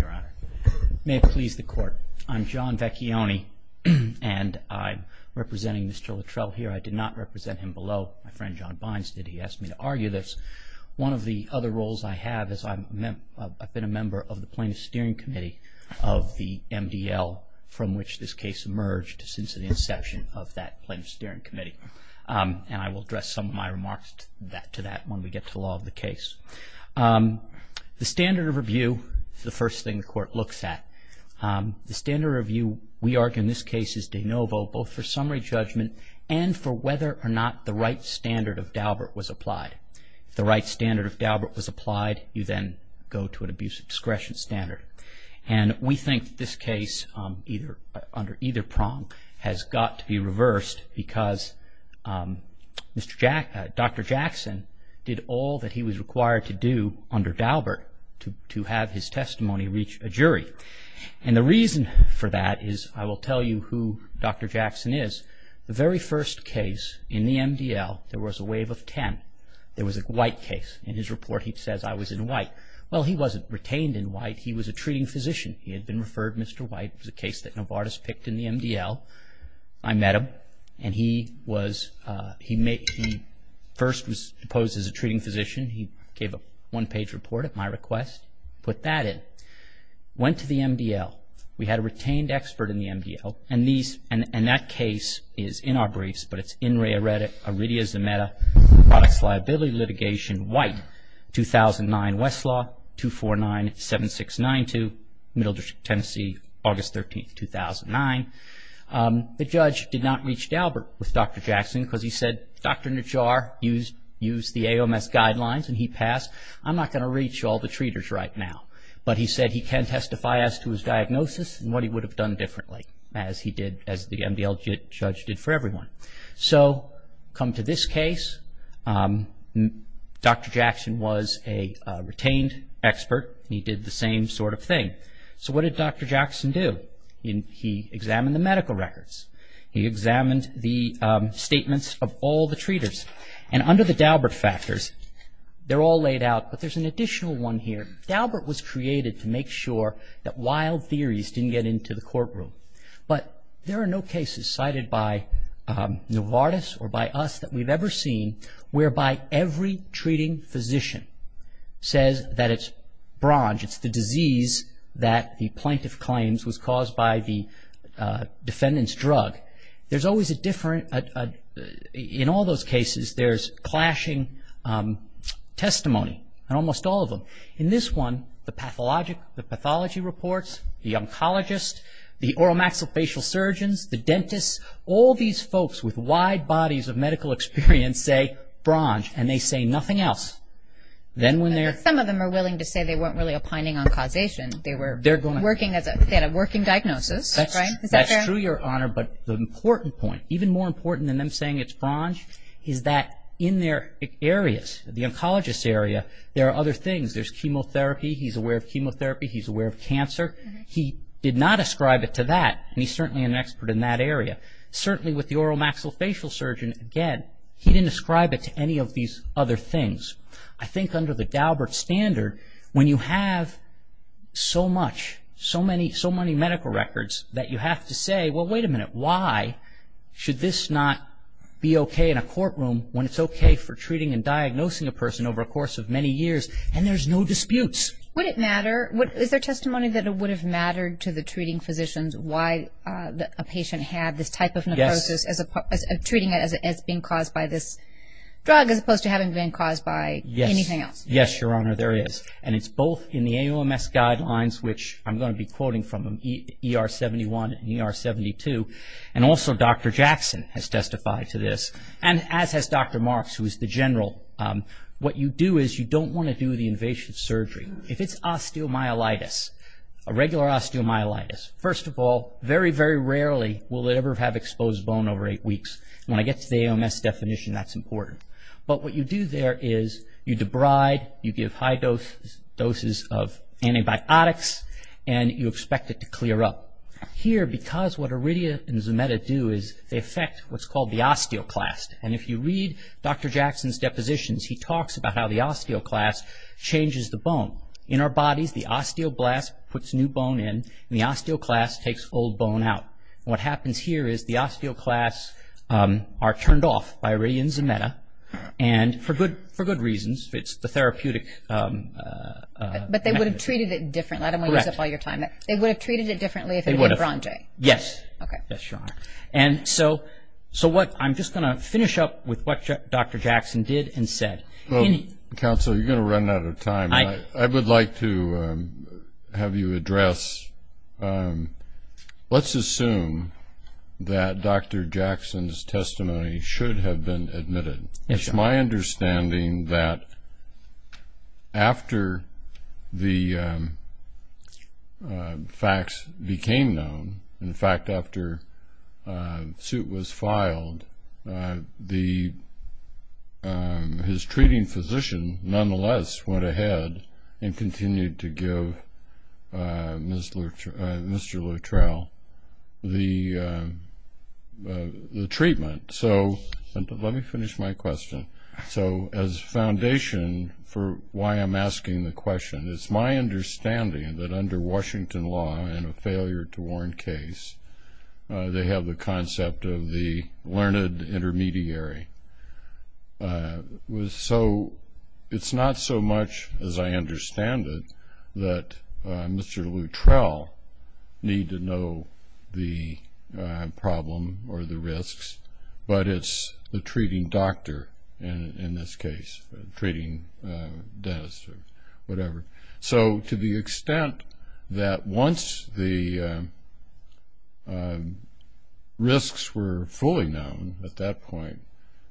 Your Honor, may it please the Court, I'm John Vecchione, and I'm representing Mr. Luttrell here. I did not represent him below. My friend John Bynes did. He asked me to argue this. One of the other roles I have is I've been a member of the Plaintiff's Steering Committee of the MDL, from which this case emerged since the inception of that Plaintiff's Steering Committee. And I will address some of my remarks to that when we get to the law of the case. The standard of review is the first thing the Court looks at. The standard of review, we argue in this case, is de novo, both for summary judgment and for whether or not the right standard of Daubert was applied. If the right standard of Daubert was applied, you then go to an abuse of discretion standard. And we think this case, under either prong, has got to be reversed because Dr. Jackson did all that he was required to do under Daubert to have his testimony reach a jury. And the reason for that is, I will tell you who Dr. Jackson is. The very first case in the MDL, there was a wave of 10. There was a White case. In his report, he says, I was in White. Well, he wasn't retained in White. He was a treating physician. He had been referred Mr. White. It was a case that Novartis picked in the MDL. I met him, and he first was proposed as a treating physician. He gave a one-page report at my request, put that in, went to the MDL. We had a retained expert in the MDL, and that case is in our briefs, but it's in re-eredit, iridia zometa, products liability litigation, White, 2009, Westlaw, 249-7692, Middle Tennessee, August 13, 2009. The judge did not reach Daubert with Dr. Jackson because he said, Dr. Najjar used the AOMS guidelines, and he passed. I'm not going to reach all the treaters right now. But he said he can testify as to his diagnosis and what he would have done differently, as he did, as the MDL judge did for everyone. So, come to this case, Dr. Jackson was a retained expert, and he did the same sort of thing. So, what did Dr. Jackson do? He examined the medical records. He examined the statements of all the treaters. And under the Daubert factors, they're all laid out, but there's an additional one here. Daubert was created to make sure that wild theories didn't get into the courtroom. But there are no cases cited by Novartis or by us that we've ever seen whereby every treating physician says that it's bronze, it's the disease that the plaintiff claims was caused by the defendant's drug. In all those cases, there's clashing testimony in almost all of them. In this one, the pathology reports, the oncologist, the oral maxillofacial surgeons, the dentists, all these folks with wide bodies of medical experience say bronze, and they say nothing else. Some of them are willing to say they weren't really opining on causation. They had a working diagnosis. That's true, Your Honor, but the important point, even more important than them saying it's bronze, is that in their areas, the oncologist's area, there are other things. There's chemotherapy. He's aware of chemotherapy. He's aware of cancer. He did not ascribe it to that, and he's certainly an expert in that area. Certainly with the oral maxillofacial surgeon, again, he didn't ascribe it to any of these other things. I think under the Daubert standard, when you have so much, so many medical records, that you have to say, well, wait a minute, why should this not be okay in a courtroom when it's okay for treating and diagnosing a person over a course of many years, and there's no disputes? Would it matter? Is there testimony that it would have mattered to the treating physicians why a patient had this type of necrosis, treating it as being caused by this drug, as opposed to having it being caused by anything else? Yes, Your Honor, there is, and it's both in the AOMS guidelines, which I'm going to be quoting from ER 71 and ER 72, and also Dr. Jackson has testified to this, and as has Dr. Marks, who is the general. What you do is you don't want to do the invasive surgery. If it's osteomyelitis, a regular osteomyelitis, first of all, very, very rarely will it ever have exposed bone over eight weeks. When I get to the AOMS definition, that's important. But what you do there is you debride, you give high doses of antibiotics, and you expect it to clear up. Here, because what Iridia and Zometa do is they affect what's called the osteoclast, and if you read Dr. Jackson's depositions, he talks about how the osteoclast changes the bone. In our bodies, the osteoblast puts new bone in, and the osteoclast takes old bone out. What happens here is the osteoclasts are turned off by Iridia and Zometa, and for good reasons. It's the therapeutic method. But they would have treated it differently. Correct. I don't want to use up all your time. They would have treated it differently if it had been Bronte. Yes. Okay. Yes, Your Honor. I'm just going to finish up with what Dr. Jackson did and said. Counsel, you're going to run out of time. I would like to have you address, let's assume that Dr. Jackson's testimony should have been admitted. Yes, Your Honor. It is my understanding that after the facts became known, in fact, after the suit was filed, his treating physician nonetheless went ahead and continued to give Mr. Luttrell the treatment. Let me finish my question. So as foundation for why I'm asking the question, it's my understanding that under Washington law in a failure-to-warn case, they have the concept of the learned intermediary. So it's not so much, as I understand it, that Mr. Luttrell need to know the problem or the risks, but it's the treating doctor in this case, the treating dentist or whatever. So to the extent that once the risks were fully known at that point,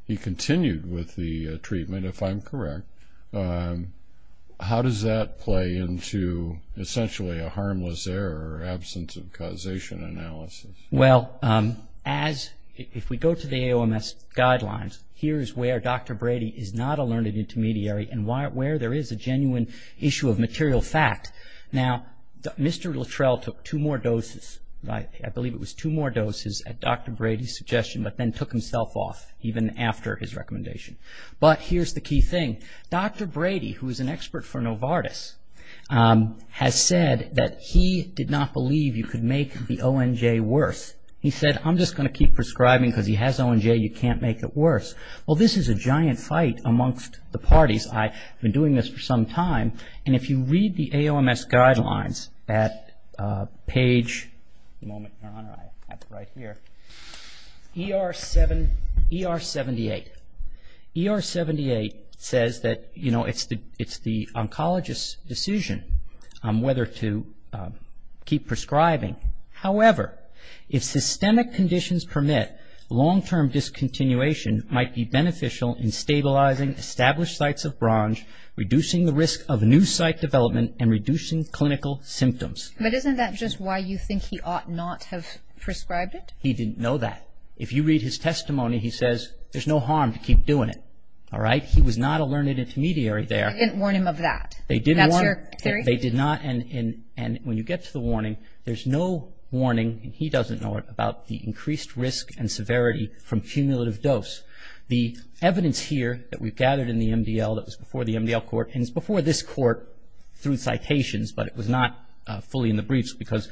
he continued with the treatment, if I'm correct, how does that play into essentially a harmless error or absence of causation analysis? Well, if we go to the AOMS guidelines, here's where Dr. Brady is not a learned intermediary and where there is a genuine issue of material fact. Now, Mr. Luttrell took two more doses, I believe it was two more doses at Dr. Brady's suggestion, but then took himself off even after his recommendation. But here's the key thing. Dr. Brady, who is an expert for Novartis, has said that he did not believe you could make the ONJ worse. He said, I'm just going to keep prescribing because he has ONJ, you can't make it worse. Well, this is a giant fight amongst the parties. I've been doing this for some time, and if you read the AOMS guidelines at page ER78, ER78 says that it's the oncologist's decision whether to keep prescribing. However, if systemic conditions permit, long-term discontinuation might be beneficial in stabilizing established sites of BRONJ, reducing the risk of new site development, and reducing clinical symptoms. But isn't that just why you think he ought not have prescribed it? He didn't know that. If you read his testimony, he says there's no harm to keep doing it, all right? He was not a learned intermediary there. They didn't warn him of that. They did warn him. And that's your theory? There's no warning, and he doesn't know it, about the increased risk and severity from cumulative dose. The evidence here that we've gathered in the MDL, that was before the MDL court, and it's before this court through citations, but it was not fully in the briefs because,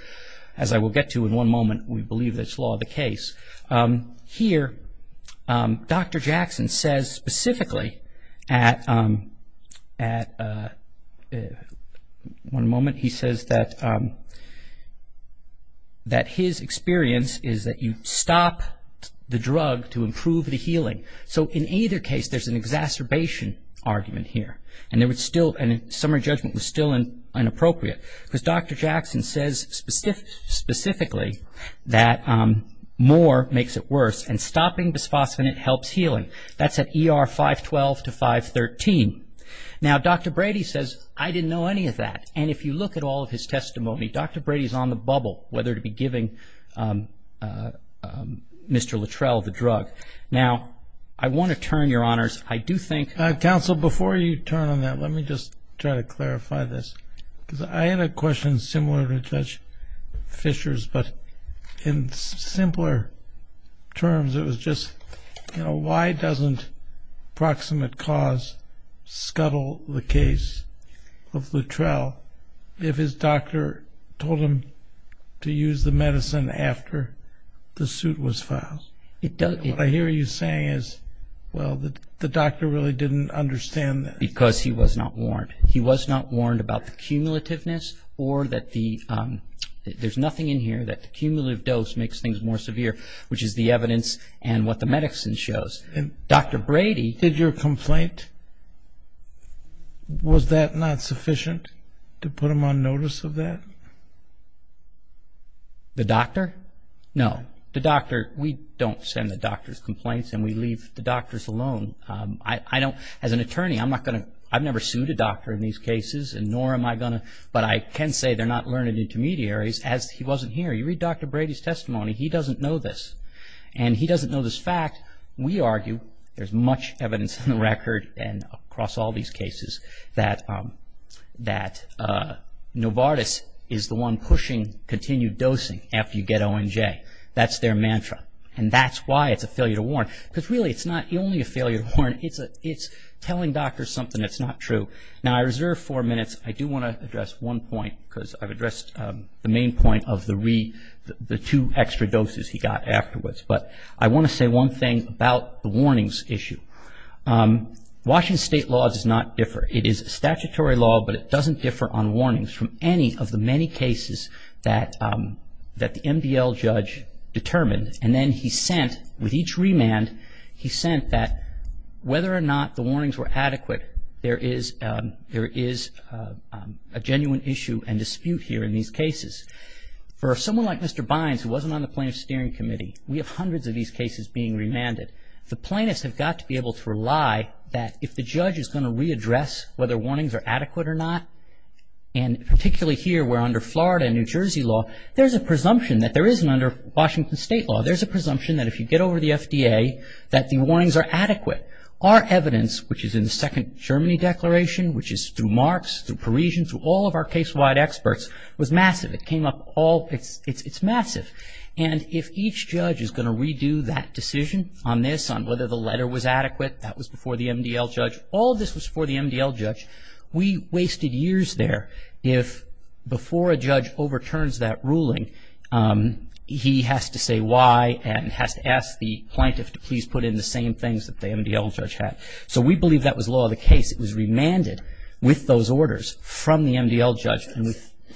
as I will get to in one moment, we believe that's law of the case. Here, Dr. Jackson says specifically that his experience is that you stop the drug to improve the healing. So in either case, there's an exacerbation argument here, and summary judgment was still inappropriate. Because Dr. Jackson says specifically that more makes it worse, and stopping bisphosphonate helps healing. That's at ER 512 to 513. Now, Dr. Brady says, I didn't know any of that. And if you look at all of his testimony, Dr. Brady's on the bubble, whether to be giving Mr. Luttrell the drug. Now, I want to turn, Your Honors, I do think- Counsel, before you turn on that, let me just try to clarify this. Because I had a question similar to Judge Fisher's, but in simpler terms, it was just, you know, why doesn't proximate cause scuttle the case of Luttrell if his doctor told him to use the medicine after the suit was filed? What I hear you saying is, well, the doctor really didn't understand that. Because he was not warned. He was not warned about the cumulativeness or that there's nothing in here that the cumulative dose makes things more severe, which is the evidence and what the medicine shows. Dr. Brady- Did your complaint, was that not sufficient to put him on notice of that? The doctor? No. The doctor, we don't send the doctor's complaints, and we leave the doctors alone. As an attorney, I've never sued a doctor in these cases, and nor am I going to, but I can say they're not learned intermediaries, as he wasn't here. You read Dr. Brady's testimony, he doesn't know this. And he doesn't know this fact. We argue, there's much evidence in the record and across all these cases, that Novartis is the one pushing continued dosing after you get ONJ. That's their mantra. And that's why it's a failure to warn. Because really, it's not only a failure to warn, it's telling doctors something that's not true. Now, I reserve four minutes. I do want to address one point, because I've addressed the main point of the two extra doses he got afterwards. But I want to say one thing about the warnings issue. Washington State law does not differ. It is statutory law, but it doesn't differ on warnings from any of the many cases that the MDL judge determined. And then he sent, with each remand, he sent that whether or not the warnings were adequate, there is a genuine issue and dispute here in these cases. For someone like Mr. Bynes, who wasn't on the plaintiff's steering committee, we have hundreds of these cases being remanded. The plaintiffs have got to be able to rely that if the judge is going to readdress whether warnings are adequate or not, and particularly here, where under Florida and New Jersey law, there's a presumption that there isn't under Washington State law. There's a presumption that if you get over the FDA, that the warnings are adequate. Our evidence, which is in the Second Germany Declaration, which is through Marx, through Parisian, through all of our case-wide experts, was massive. It came up all, it's massive. And if each judge is going to redo that decision on this, on whether the letter was adequate, that was before the MDL judge, all this was before the MDL judge, we wasted years there if before a judge overturns that ruling, he has to say why and has to ask the plaintiff to please put in the same things that the MDL judge had. So we believe that was law of the case. It was remanded with those orders from the MDL judge.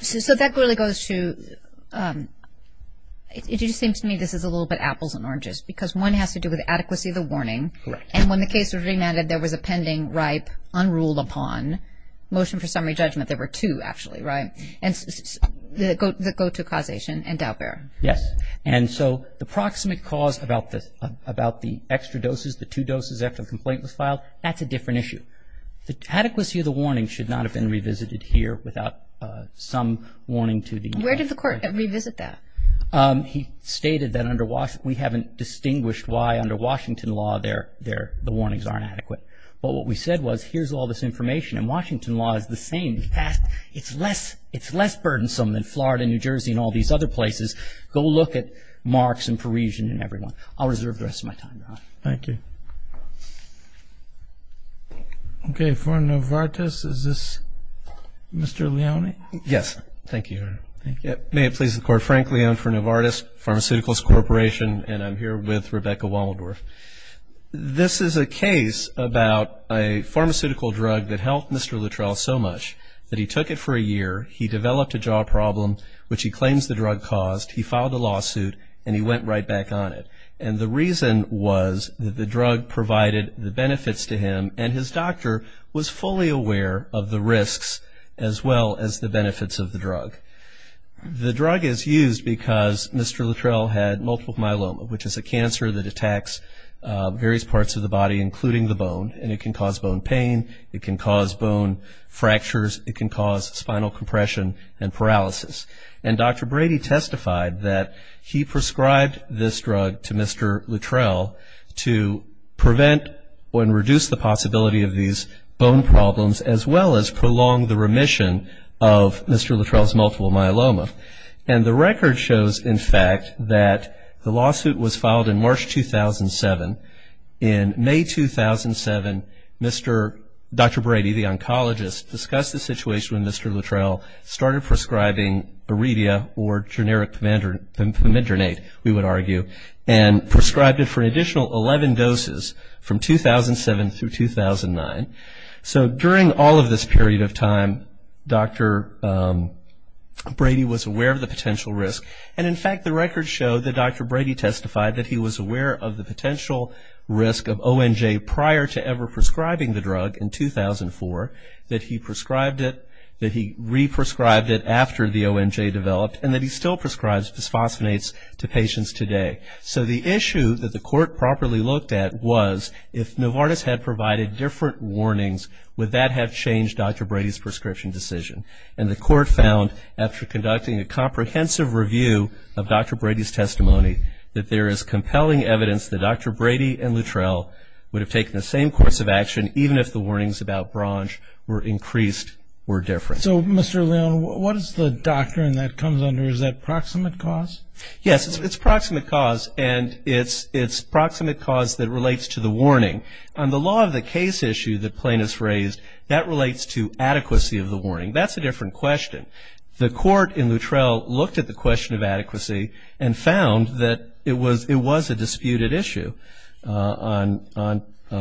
So that really goes to, it just seems to me this is a little bit apples and oranges, because one has to do with adequacy of the warning. Correct. And when the case was remanded, there was a pending, ripe, unruled-upon motion for summary judgment. There were two, actually, right? And the go-to causation and doubt-bearer. Yes. And so the proximate cause about the extra doses, the two doses after the complaint was filed, that's a different issue. Adequacy of the warning should not have been revisited here without some warning to the MDL judge. Where did the court revisit that? He stated that we haven't distinguished why under Washington law the warnings aren't adequate. But what we said was, here's all this information. And Washington law is the same. It's less burdensome than Florida and New Jersey and all these other places. Go look at Marx and Parisian and everyone. I'll reserve the rest of my time, Ron. Thank you. Okay. For Novartis, is this Mr. Leone? Yes. Thank you, Your Honor. May it please the Court. Frank Leone for Novartis Pharmaceuticals Corporation. And I'm here with Rebecca Wommeldorf. This is a case about a pharmaceutical drug that helped Mr. Luttrell so much that he took it for a year. He developed a jaw problem, which he claims the drug caused. He filed a lawsuit, and he went right back on it. And the reason was that the drug provided the benefits to him, and his doctor was fully aware of the risks as well as the benefits of the drug. The drug is used because Mr. Luttrell had multiple myeloma, which is a cancer that attacks various parts of the body, including the bone. And it can cause bone pain. It can cause bone fractures. It can cause spinal compression and paralysis. And Dr. Brady testified that he prescribed this drug to Mr. Luttrell to prevent and reduce the possibility of these bone problems, as well as prolong the remission of Mr. Luttrell's multiple myeloma. And the record shows, in fact, that the lawsuit was filed in March 2007. In May 2007, Dr. Brady, the oncologist, discussed the situation when Mr. Luttrell started prescribing Aredia or generic Pimidronate, we would argue, and prescribed it for an additional 11 doses from 2007 through 2009. So during all of this period of time, Dr. Brady was aware of the potential risk. And, in fact, the record showed that Dr. Brady testified that he was aware of the potential risk of ONJ prior to ever prescribing the drug in 2004, that he prescribed it, that he re-prescribed it after the ONJ developed, and that he still prescribes bisphosphonates to patients today. So the issue that the court properly looked at was, if Novartis had provided different warnings, would that have changed Dr. Brady's prescription decision? And the court found, after conducting a comprehensive review of Dr. Brady's testimony, that there is compelling evidence that Dr. Brady and Luttrell would have taken the same course of action, even if the warnings about BRONJ were increased or different. So, Mr. Leon, what is the doctrine that comes under, is that proximate cause? Yes, it's proximate cause, and it's proximate cause that relates to the warning. On the law of the case issue that Plaintiff's raised, that relates to adequacy of the warning. That's a different question. The court in Luttrell looked at the question of adequacy and found that it was a disputed issue in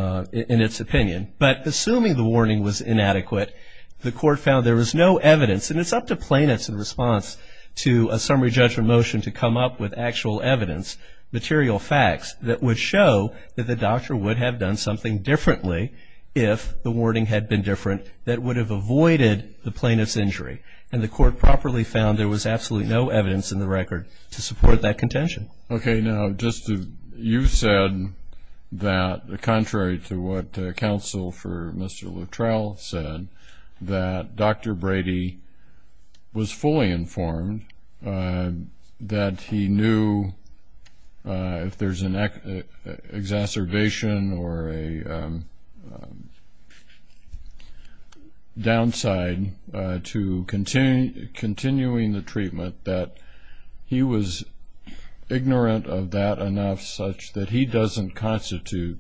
its opinion. But assuming the warning was inadequate, the court found there was no evidence, and it's up to plaintiffs in response to a summary judgment motion to come up with actual evidence, material facts that would show that the doctor would have done something differently if the warning had been different that would have avoided the plaintiff's injury. And the court properly found there was absolutely no evidence in the record to support that contention. Okay. Now, just you said that, contrary to what counsel for Mr. Luttrell said, that Dr. Brady was fully informed that he knew if there's an exacerbation or a downside to continuing the treatment, that he was ignorant of that enough such that he doesn't constitute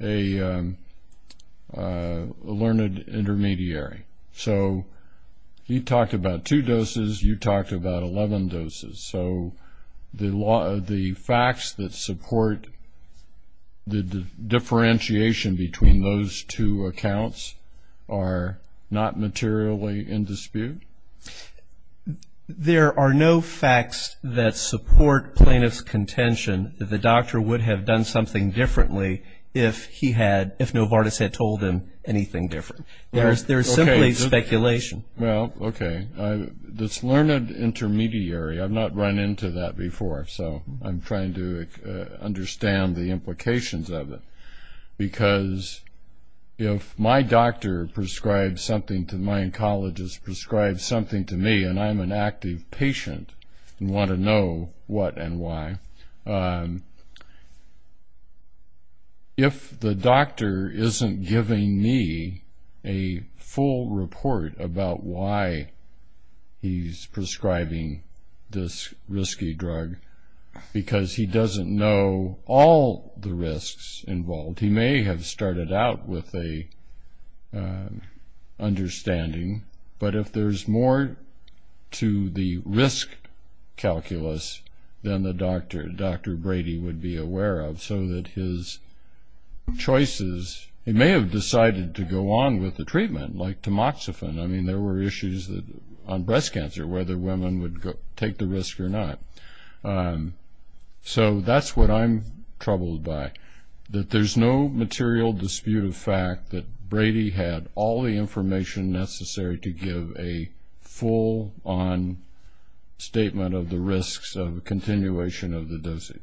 a learned intermediary. So he talked about two doses. You talked about 11 doses. So the facts that support the differentiation between those two accounts are not materially in dispute? There are no facts that support plaintiff's contention that the doctor would have done something differently if Novartis had told him anything different. There is simply speculation. Well, okay. This learned intermediary, I've not run into that before, so I'm trying to understand the implications of it. Because if my doctor prescribes something to my oncologist, prescribes something to me, and I'm an active patient and want to know what and why, if the doctor isn't giving me a full report about why he's prescribing this risky drug because he doesn't know all the risks involved, he may have started out with an understanding. But if there's more to the risk calculus than the doctor, Dr. Brady, would be aware of, so that his choices, he may have decided to go on with the treatment, like tamoxifen. I mean, there were issues on breast cancer, whether women would take the risk or not. So that's what I'm troubled by, that there's no material dispute of fact that Brady had all the information necessary to give a full-on statement of the risks of a continuation of the dosage.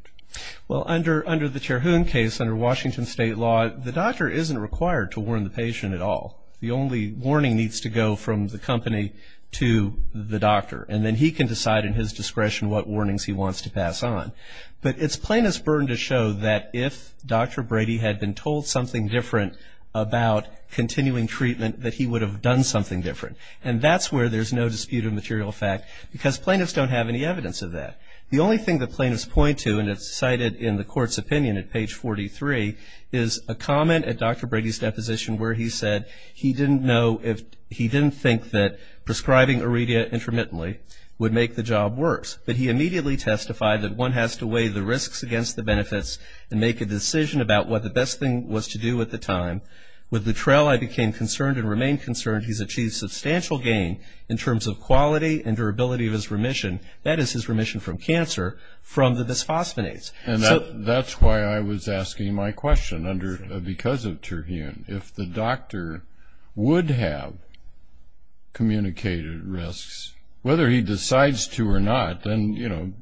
Well, under the Cherhoon case, under Washington State law, the doctor isn't required to warn the patient at all. The only warning needs to go from the company to the doctor, and then he can decide in his discretion what warnings he wants to pass on. But it's plaintiff's burden to show that if Dr. Brady had been told something different about continuing treatment, that he would have done something different. And that's where there's no dispute of material fact, because plaintiffs don't have any evidence of that. The only thing that plaintiffs point to, and it's cited in the court's opinion at page 43, is a comment at Dr. Brady's deposition where he said he didn't know if, he didn't think that prescribing Aredia intermittently would make the job worse. But he immediately testified that one has to weigh the risks against the benefits and make a decision about what the best thing was to do at the time. With Luttrell, I became concerned and remain concerned he's achieved substantial gain in terms of quality and durability of his remission, that is his remission from cancer, from the bisphosphonates. And that's why I was asking my question because of Cherhoon. If the doctor would have communicated risks, whether he decides to or not, then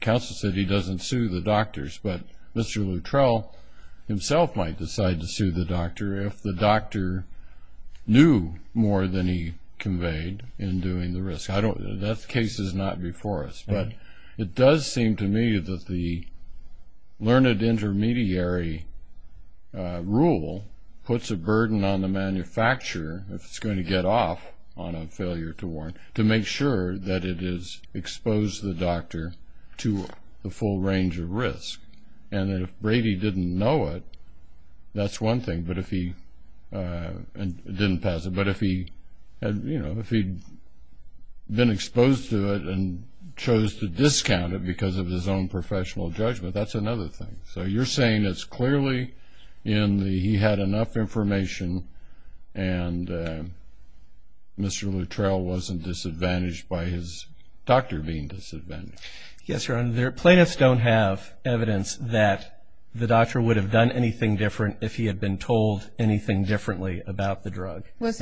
counsel said he doesn't sue the doctors. But Mr. Luttrell himself might decide to sue the doctor if the doctor knew more than he conveyed in doing the risk. That case is not before us. But it does seem to me that the learned intermediary rule puts a burden on the manufacturer, if it's going to get off on a failure to warrant, to make sure that it has exposed the doctor to the full range of risk. And if Brady didn't know it, that's one thing, and didn't pass it. But if he had been exposed to it and chose to discount it because of his own professional judgment, that's another thing. So you're saying it's clearly in the he had enough information and Mr. Luttrell wasn't disadvantaged by his doctor being disadvantaged. Yes, Your Honor. The plaintiffs don't have evidence that the doctor would have done anything different if he had been told anything differently about the drug. That's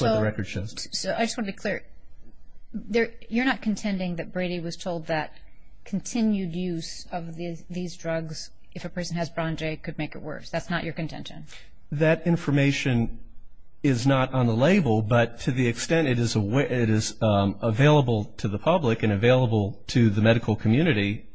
what the record shows. I just want to be clear. You're not contending that Brady was told that continued use of these drugs, if a person has Bronje, could make it worse? That's not your contention? That information is not on the label, but to the extent it is available to the public and available to the medical community,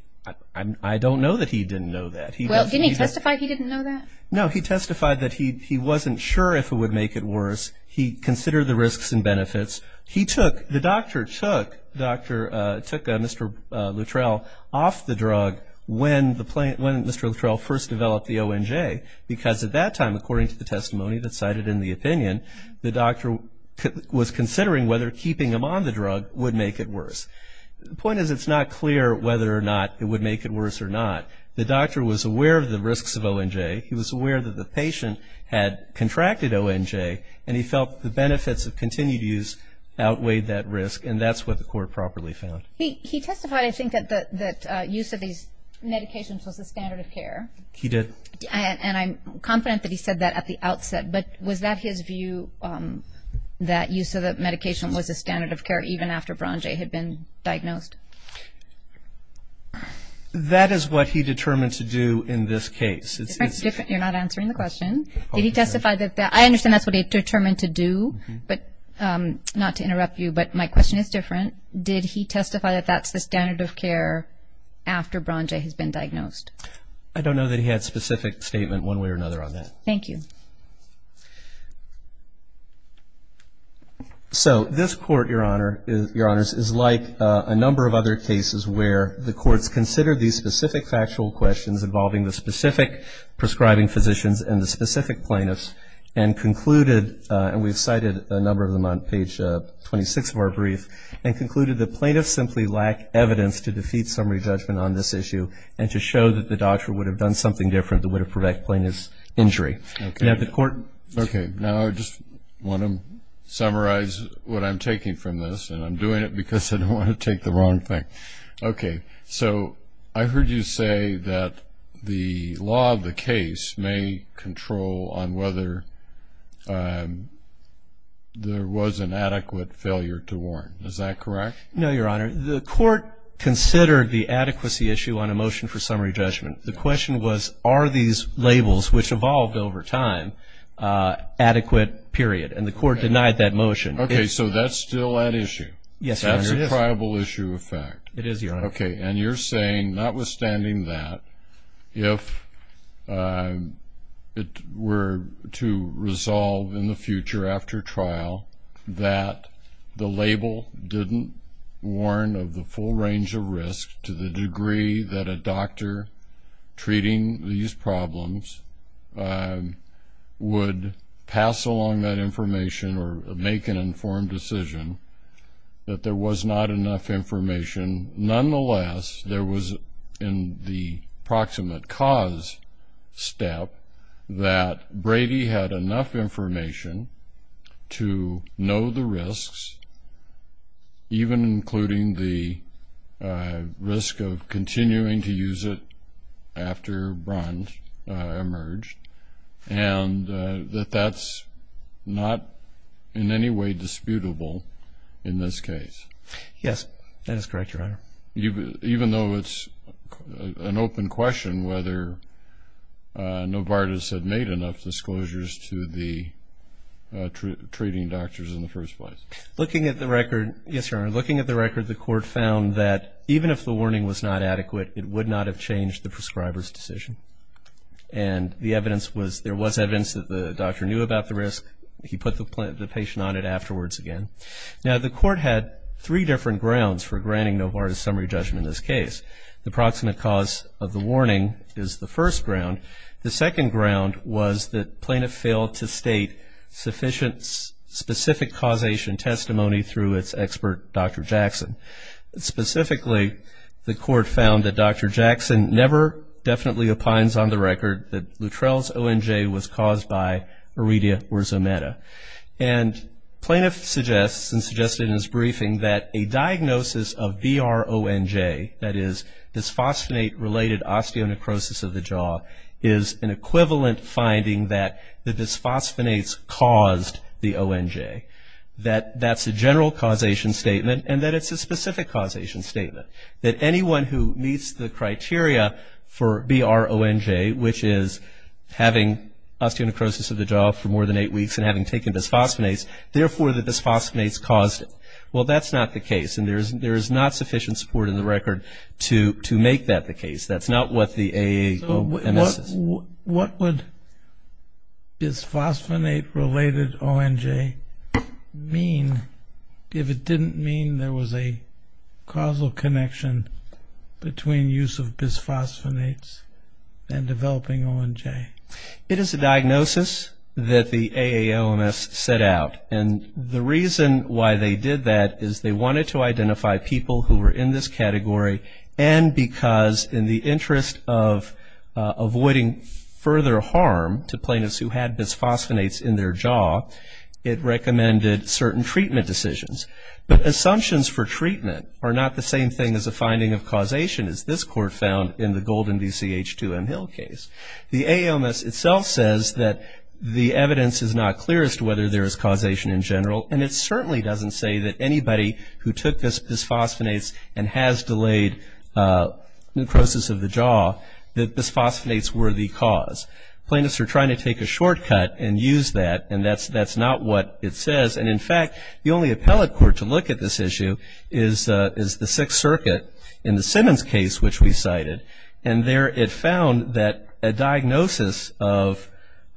I don't know that he didn't know that. Well, didn't he testify he didn't know that? No, he testified that he wasn't sure if it would make it worse. He considered the risks and benefits. The doctor took Mr. Luttrell off the drug when Mr. Luttrell first developed the ONJ because at that time, according to the testimony that's cited in the opinion, the doctor was considering whether keeping him on the drug would make it worse. The point is it's not clear whether or not it would make it worse or not. The doctor was aware of the risks of ONJ. He was aware that the patient had contracted ONJ, and he felt the benefits of continued use outweighed that risk, and that's what the court properly found. He testified, I think, that use of these medications was the standard of care. He did. And I'm confident that he said that at the outset, but was that his view that use of the medication was the standard of care even after BRONJ had been diagnosed? That is what he determined to do in this case. You're not answering the question. Did he testify that that – I understand that's what he determined to do, but not to interrupt you, but my question is different. Did he testify that that's the standard of care after BRONJ has been diagnosed? I don't know that he had a specific statement one way or another on that. Thank you. So this court, Your Honors, is like a number of other cases where the courts considered these specific factual questions involving the specific prescribing physicians and the specific plaintiffs and concluded, and we've cited a number of them on page 26 of our brief, and concluded that plaintiffs simply lack evidence to defeat summary judgment on this issue and to show that the doctor would have done something different that would have prevented plaintiff's injury. Okay. Now the court – Okay. Now I just want to summarize what I'm taking from this, and I'm doing it because I don't want to take the wrong thing. Okay. So I heard you say that the law of the case may control on whether there was an adequate failure to warn. Is that correct? No, Your Honor. The court considered the adequacy issue on a motion for summary judgment. The question was, are these labels, which evolved over time, adequate, period. And the court denied that motion. Okay, so that's still at issue. Yes, Your Honor, it is. That's your tribal issue of fact. It is, Your Honor. Okay, and you're saying, notwithstanding that, if it were to resolve in the future after trial that the label didn't warn of the full range of risk to the degree that a doctor treating these problems would pass along that information or make an informed decision, that there was not enough information. And nonetheless, there was, in the proximate cause step, that Brady had enough information to know the risks, even including the risk of continuing to use it after Brundt emerged, and that that's not in any way disputable in this case. Yes, that is correct, Your Honor. Even though it's an open question whether Novartis had made enough disclosures to the treating doctors in the first place? Looking at the record, yes, Your Honor, looking at the record, the court found that even if the warning was not adequate, it would not have changed the prescriber's decision. And the evidence was, there was evidence that the doctor knew about the risk. He put the patient on it afterwards again. Now, the court had three different grounds for granting Novartis' summary judgment in this case. The proximate cause of the warning is the first ground. The second ground was that plaintiff failed to state sufficient specific causation testimony through its expert, Dr. Jackson. Specifically, the court found that Dr. Jackson never definitely opines on the record that Luttrell's ONJ was caused by Aurelia or Zometa. And plaintiff suggests and suggested in his briefing that a diagnosis of BRONJ, that is, dysphosphonate-related osteonecrosis of the jaw, is an equivalent finding that the dysphosphonates caused the ONJ, that that's a general causation statement and that it's a specific causation statement, that anyone who meets the criteria for BRONJ, which is having osteonecrosis of the jaw for more than eight weeks and having taken dysphosphonates, therefore the dysphosphonates caused it. Well, that's not the case, and there is not sufficient support in the record to make that the case. That's not what the AAMS is. What would dysphosphonate-related ONJ mean if it didn't mean there was a causal connection between use of dysphosphonates and developing ONJ? It is a diagnosis that the AALMS set out, and the reason why they did that is they wanted to identify people who were in this category and because in the interest of avoiding further harm to plaintiffs who had dysphosphonates in their jaw, it recommended certain treatment decisions. But assumptions for treatment are not the same thing as a finding of causation, as this court found in the Golden v. CH2M Hill case. The AALMS itself says that the evidence is not clear as to whether there is causation in general, and it certainly doesn't say that anybody who took dysphosphonates and has delayed necrosis of the jaw, that dysphosphonates were the cause. Plaintiffs are trying to take a shortcut and use that, and that's not what it says. And, in fact, the only appellate court to look at this issue is the Sixth Circuit in the Simmons case, which we cited, and there it found that a diagnosis of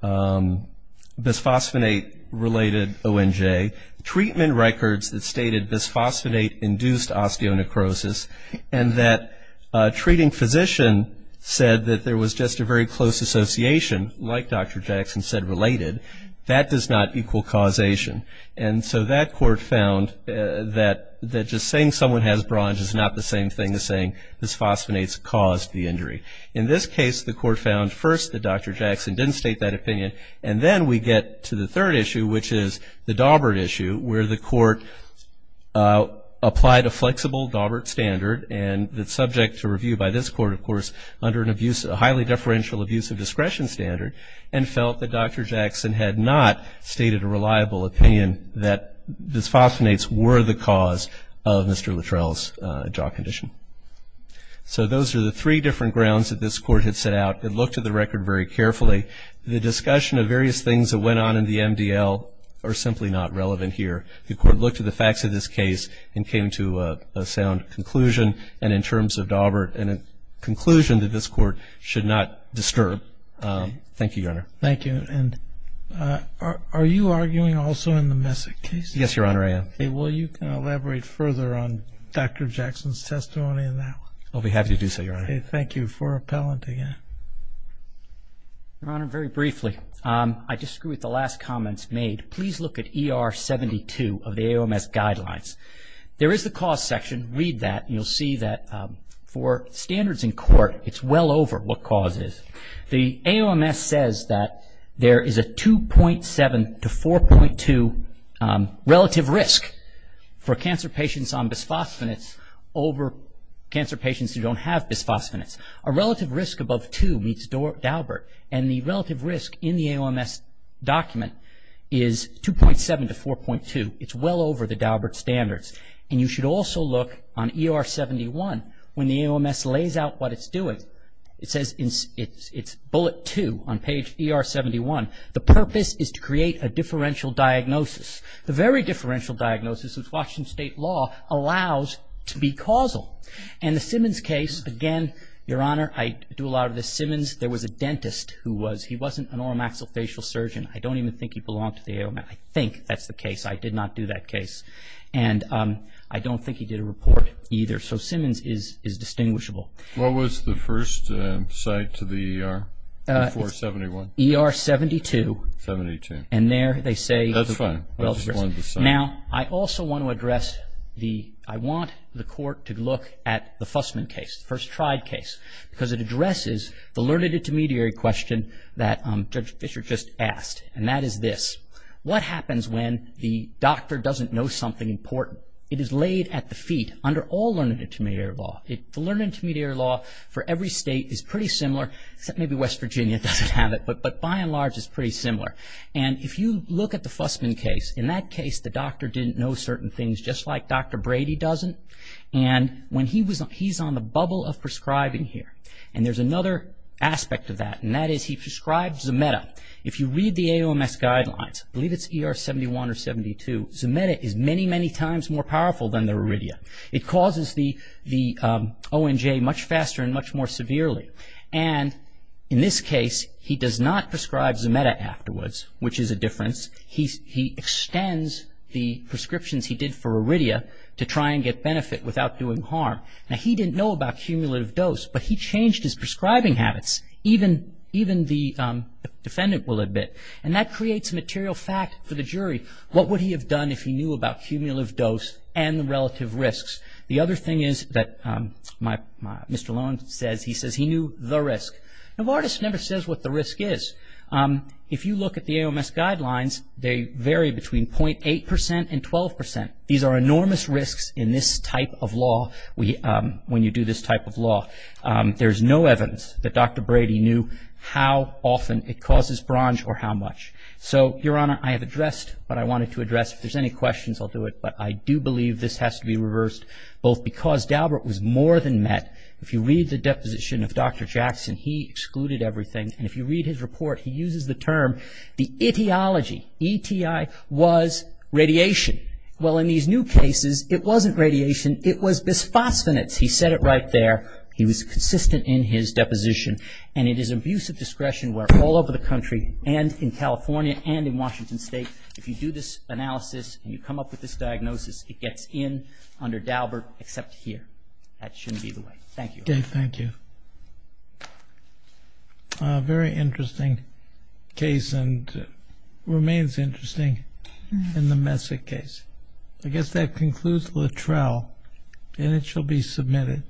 dysphosphonate-related ONJ, treatment records that stated dysphosphonate-induced osteonecrosis, and that a treating physician said that there was just a very close association, like Dr. Jackson said, related, that does not equal causation. And so that court found that just saying someone has bronze is not the same thing as saying dysphosphonates caused the injury. In this case, the court found first that Dr. Jackson didn't state that opinion, and then we get to the third issue, which is the Daubert issue, where the court applied a flexible Daubert standard, and it's subject to review by this court, of course, under a highly deferential abuse of discretion standard, and felt that Dr. Jackson had not stated a reliable opinion that dysphosphonates were the cause of Mr. Littrell's jaw condition. So those are the three different grounds that this court had set out. It looked at the record very carefully. The discussion of various things that went on in the MDL are simply not relevant here. The court looked at the facts of this case and came to a sound conclusion, and in terms of Daubert, and a conclusion that this court should not disturb. Thank you, Your Honor. Thank you. And are you arguing also in the Messick case? Yes, Your Honor, I am. Okay. Well, you can elaborate further on Dr. Jackson's testimony in that one. I'll be happy to do so, Your Honor. Okay. Thank you. For appellant again. Your Honor, very briefly, I disagree with the last comments made. Please look at ER 72 of the AOMS guidelines. There is the cause section. If you read that, you'll see that for standards in court, it's well over what cause is. The AOMS says that there is a 2.7 to 4.2 relative risk for cancer patients on bisphosphonates over cancer patients who don't have bisphosphonates. A relative risk above 2 meets Daubert, and the relative risk in the AOMS document is 2.7 to 4.2. It's well over the Daubert standards. And you should also look on ER 71 when the AOMS lays out what it's doing. It says it's bullet 2 on page ER 71. The purpose is to create a differential diagnosis. The very differential diagnosis, as Washington State law allows, to be causal. And the Simmons case, again, Your Honor, I do a lot of this. Simmons, there was a dentist who was, he wasn't an oral maxillofacial surgeon. I don't even think he belonged to the AOMS. I think that's the case. I did not do that case. And I don't think he did a report either. So Simmons is distinguishable. What was the first site to the ER before 71? ER 72. 72. And there they say. That's fine. Now, I also want to address the, I want the court to look at the Fussman case, the first tried case, because it addresses the learned intermediary question that Judge Fischer just asked, and that is this. What happens when the doctor doesn't know something important? It is laid at the feet under all learned intermediary law. The learned intermediary law for every state is pretty similar, except maybe West Virginia doesn't have it, but by and large it's pretty similar. And if you look at the Fussman case, in that case the doctor didn't know certain things, just like Dr. Brady doesn't. And when he was, he's on the bubble of prescribing here. And there's another aspect of that, and that is he prescribes a meta. If you read the AOMS guidelines, I believe it's ER 71 or 72, Zometa is many, many times more powerful than the Aridia. It causes the ONJ much faster and much more severely. And in this case he does not prescribe Zometa afterwards, which is a difference. He extends the prescriptions he did for Aridia to try and get benefit without doing harm. Now, he didn't know about cumulative dose, but he changed his prescribing habits. Even the defendant will admit. And that creates material fact for the jury. What would he have done if he knew about cumulative dose and the relative risks? The other thing is that Mr. Lowen says he knew the risk. Now, Vardis never says what the risk is. If you look at the AOMS guidelines, they vary between 0.8% and 12%. These are enormous risks in this type of law, when you do this type of law. There's no evidence that Dr. Brady knew how often it causes BRONJ or how much. So, Your Honor, I have addressed what I wanted to address. If there's any questions, I'll do it. But I do believe this has to be reversed, both because Dalbert was more than met. If you read the deposition of Dr. Jackson, he excluded everything. And if you read his report, he uses the term, the etiology, ETI, was radiation. Well, in these new cases, it wasn't radiation, it was bisphosphonates. He said it right there. He was consistent in his deposition. And it is abusive discretion where all over the country and in California and in Washington State, if you do this analysis and you come up with this diagnosis, it gets in under Dalbert except here. That shouldn't be the way. Thank you, Your Honor. Thank you. Very interesting case and remains interesting in the Messick case. I guess that concludes Littrell, and it shall be submitted.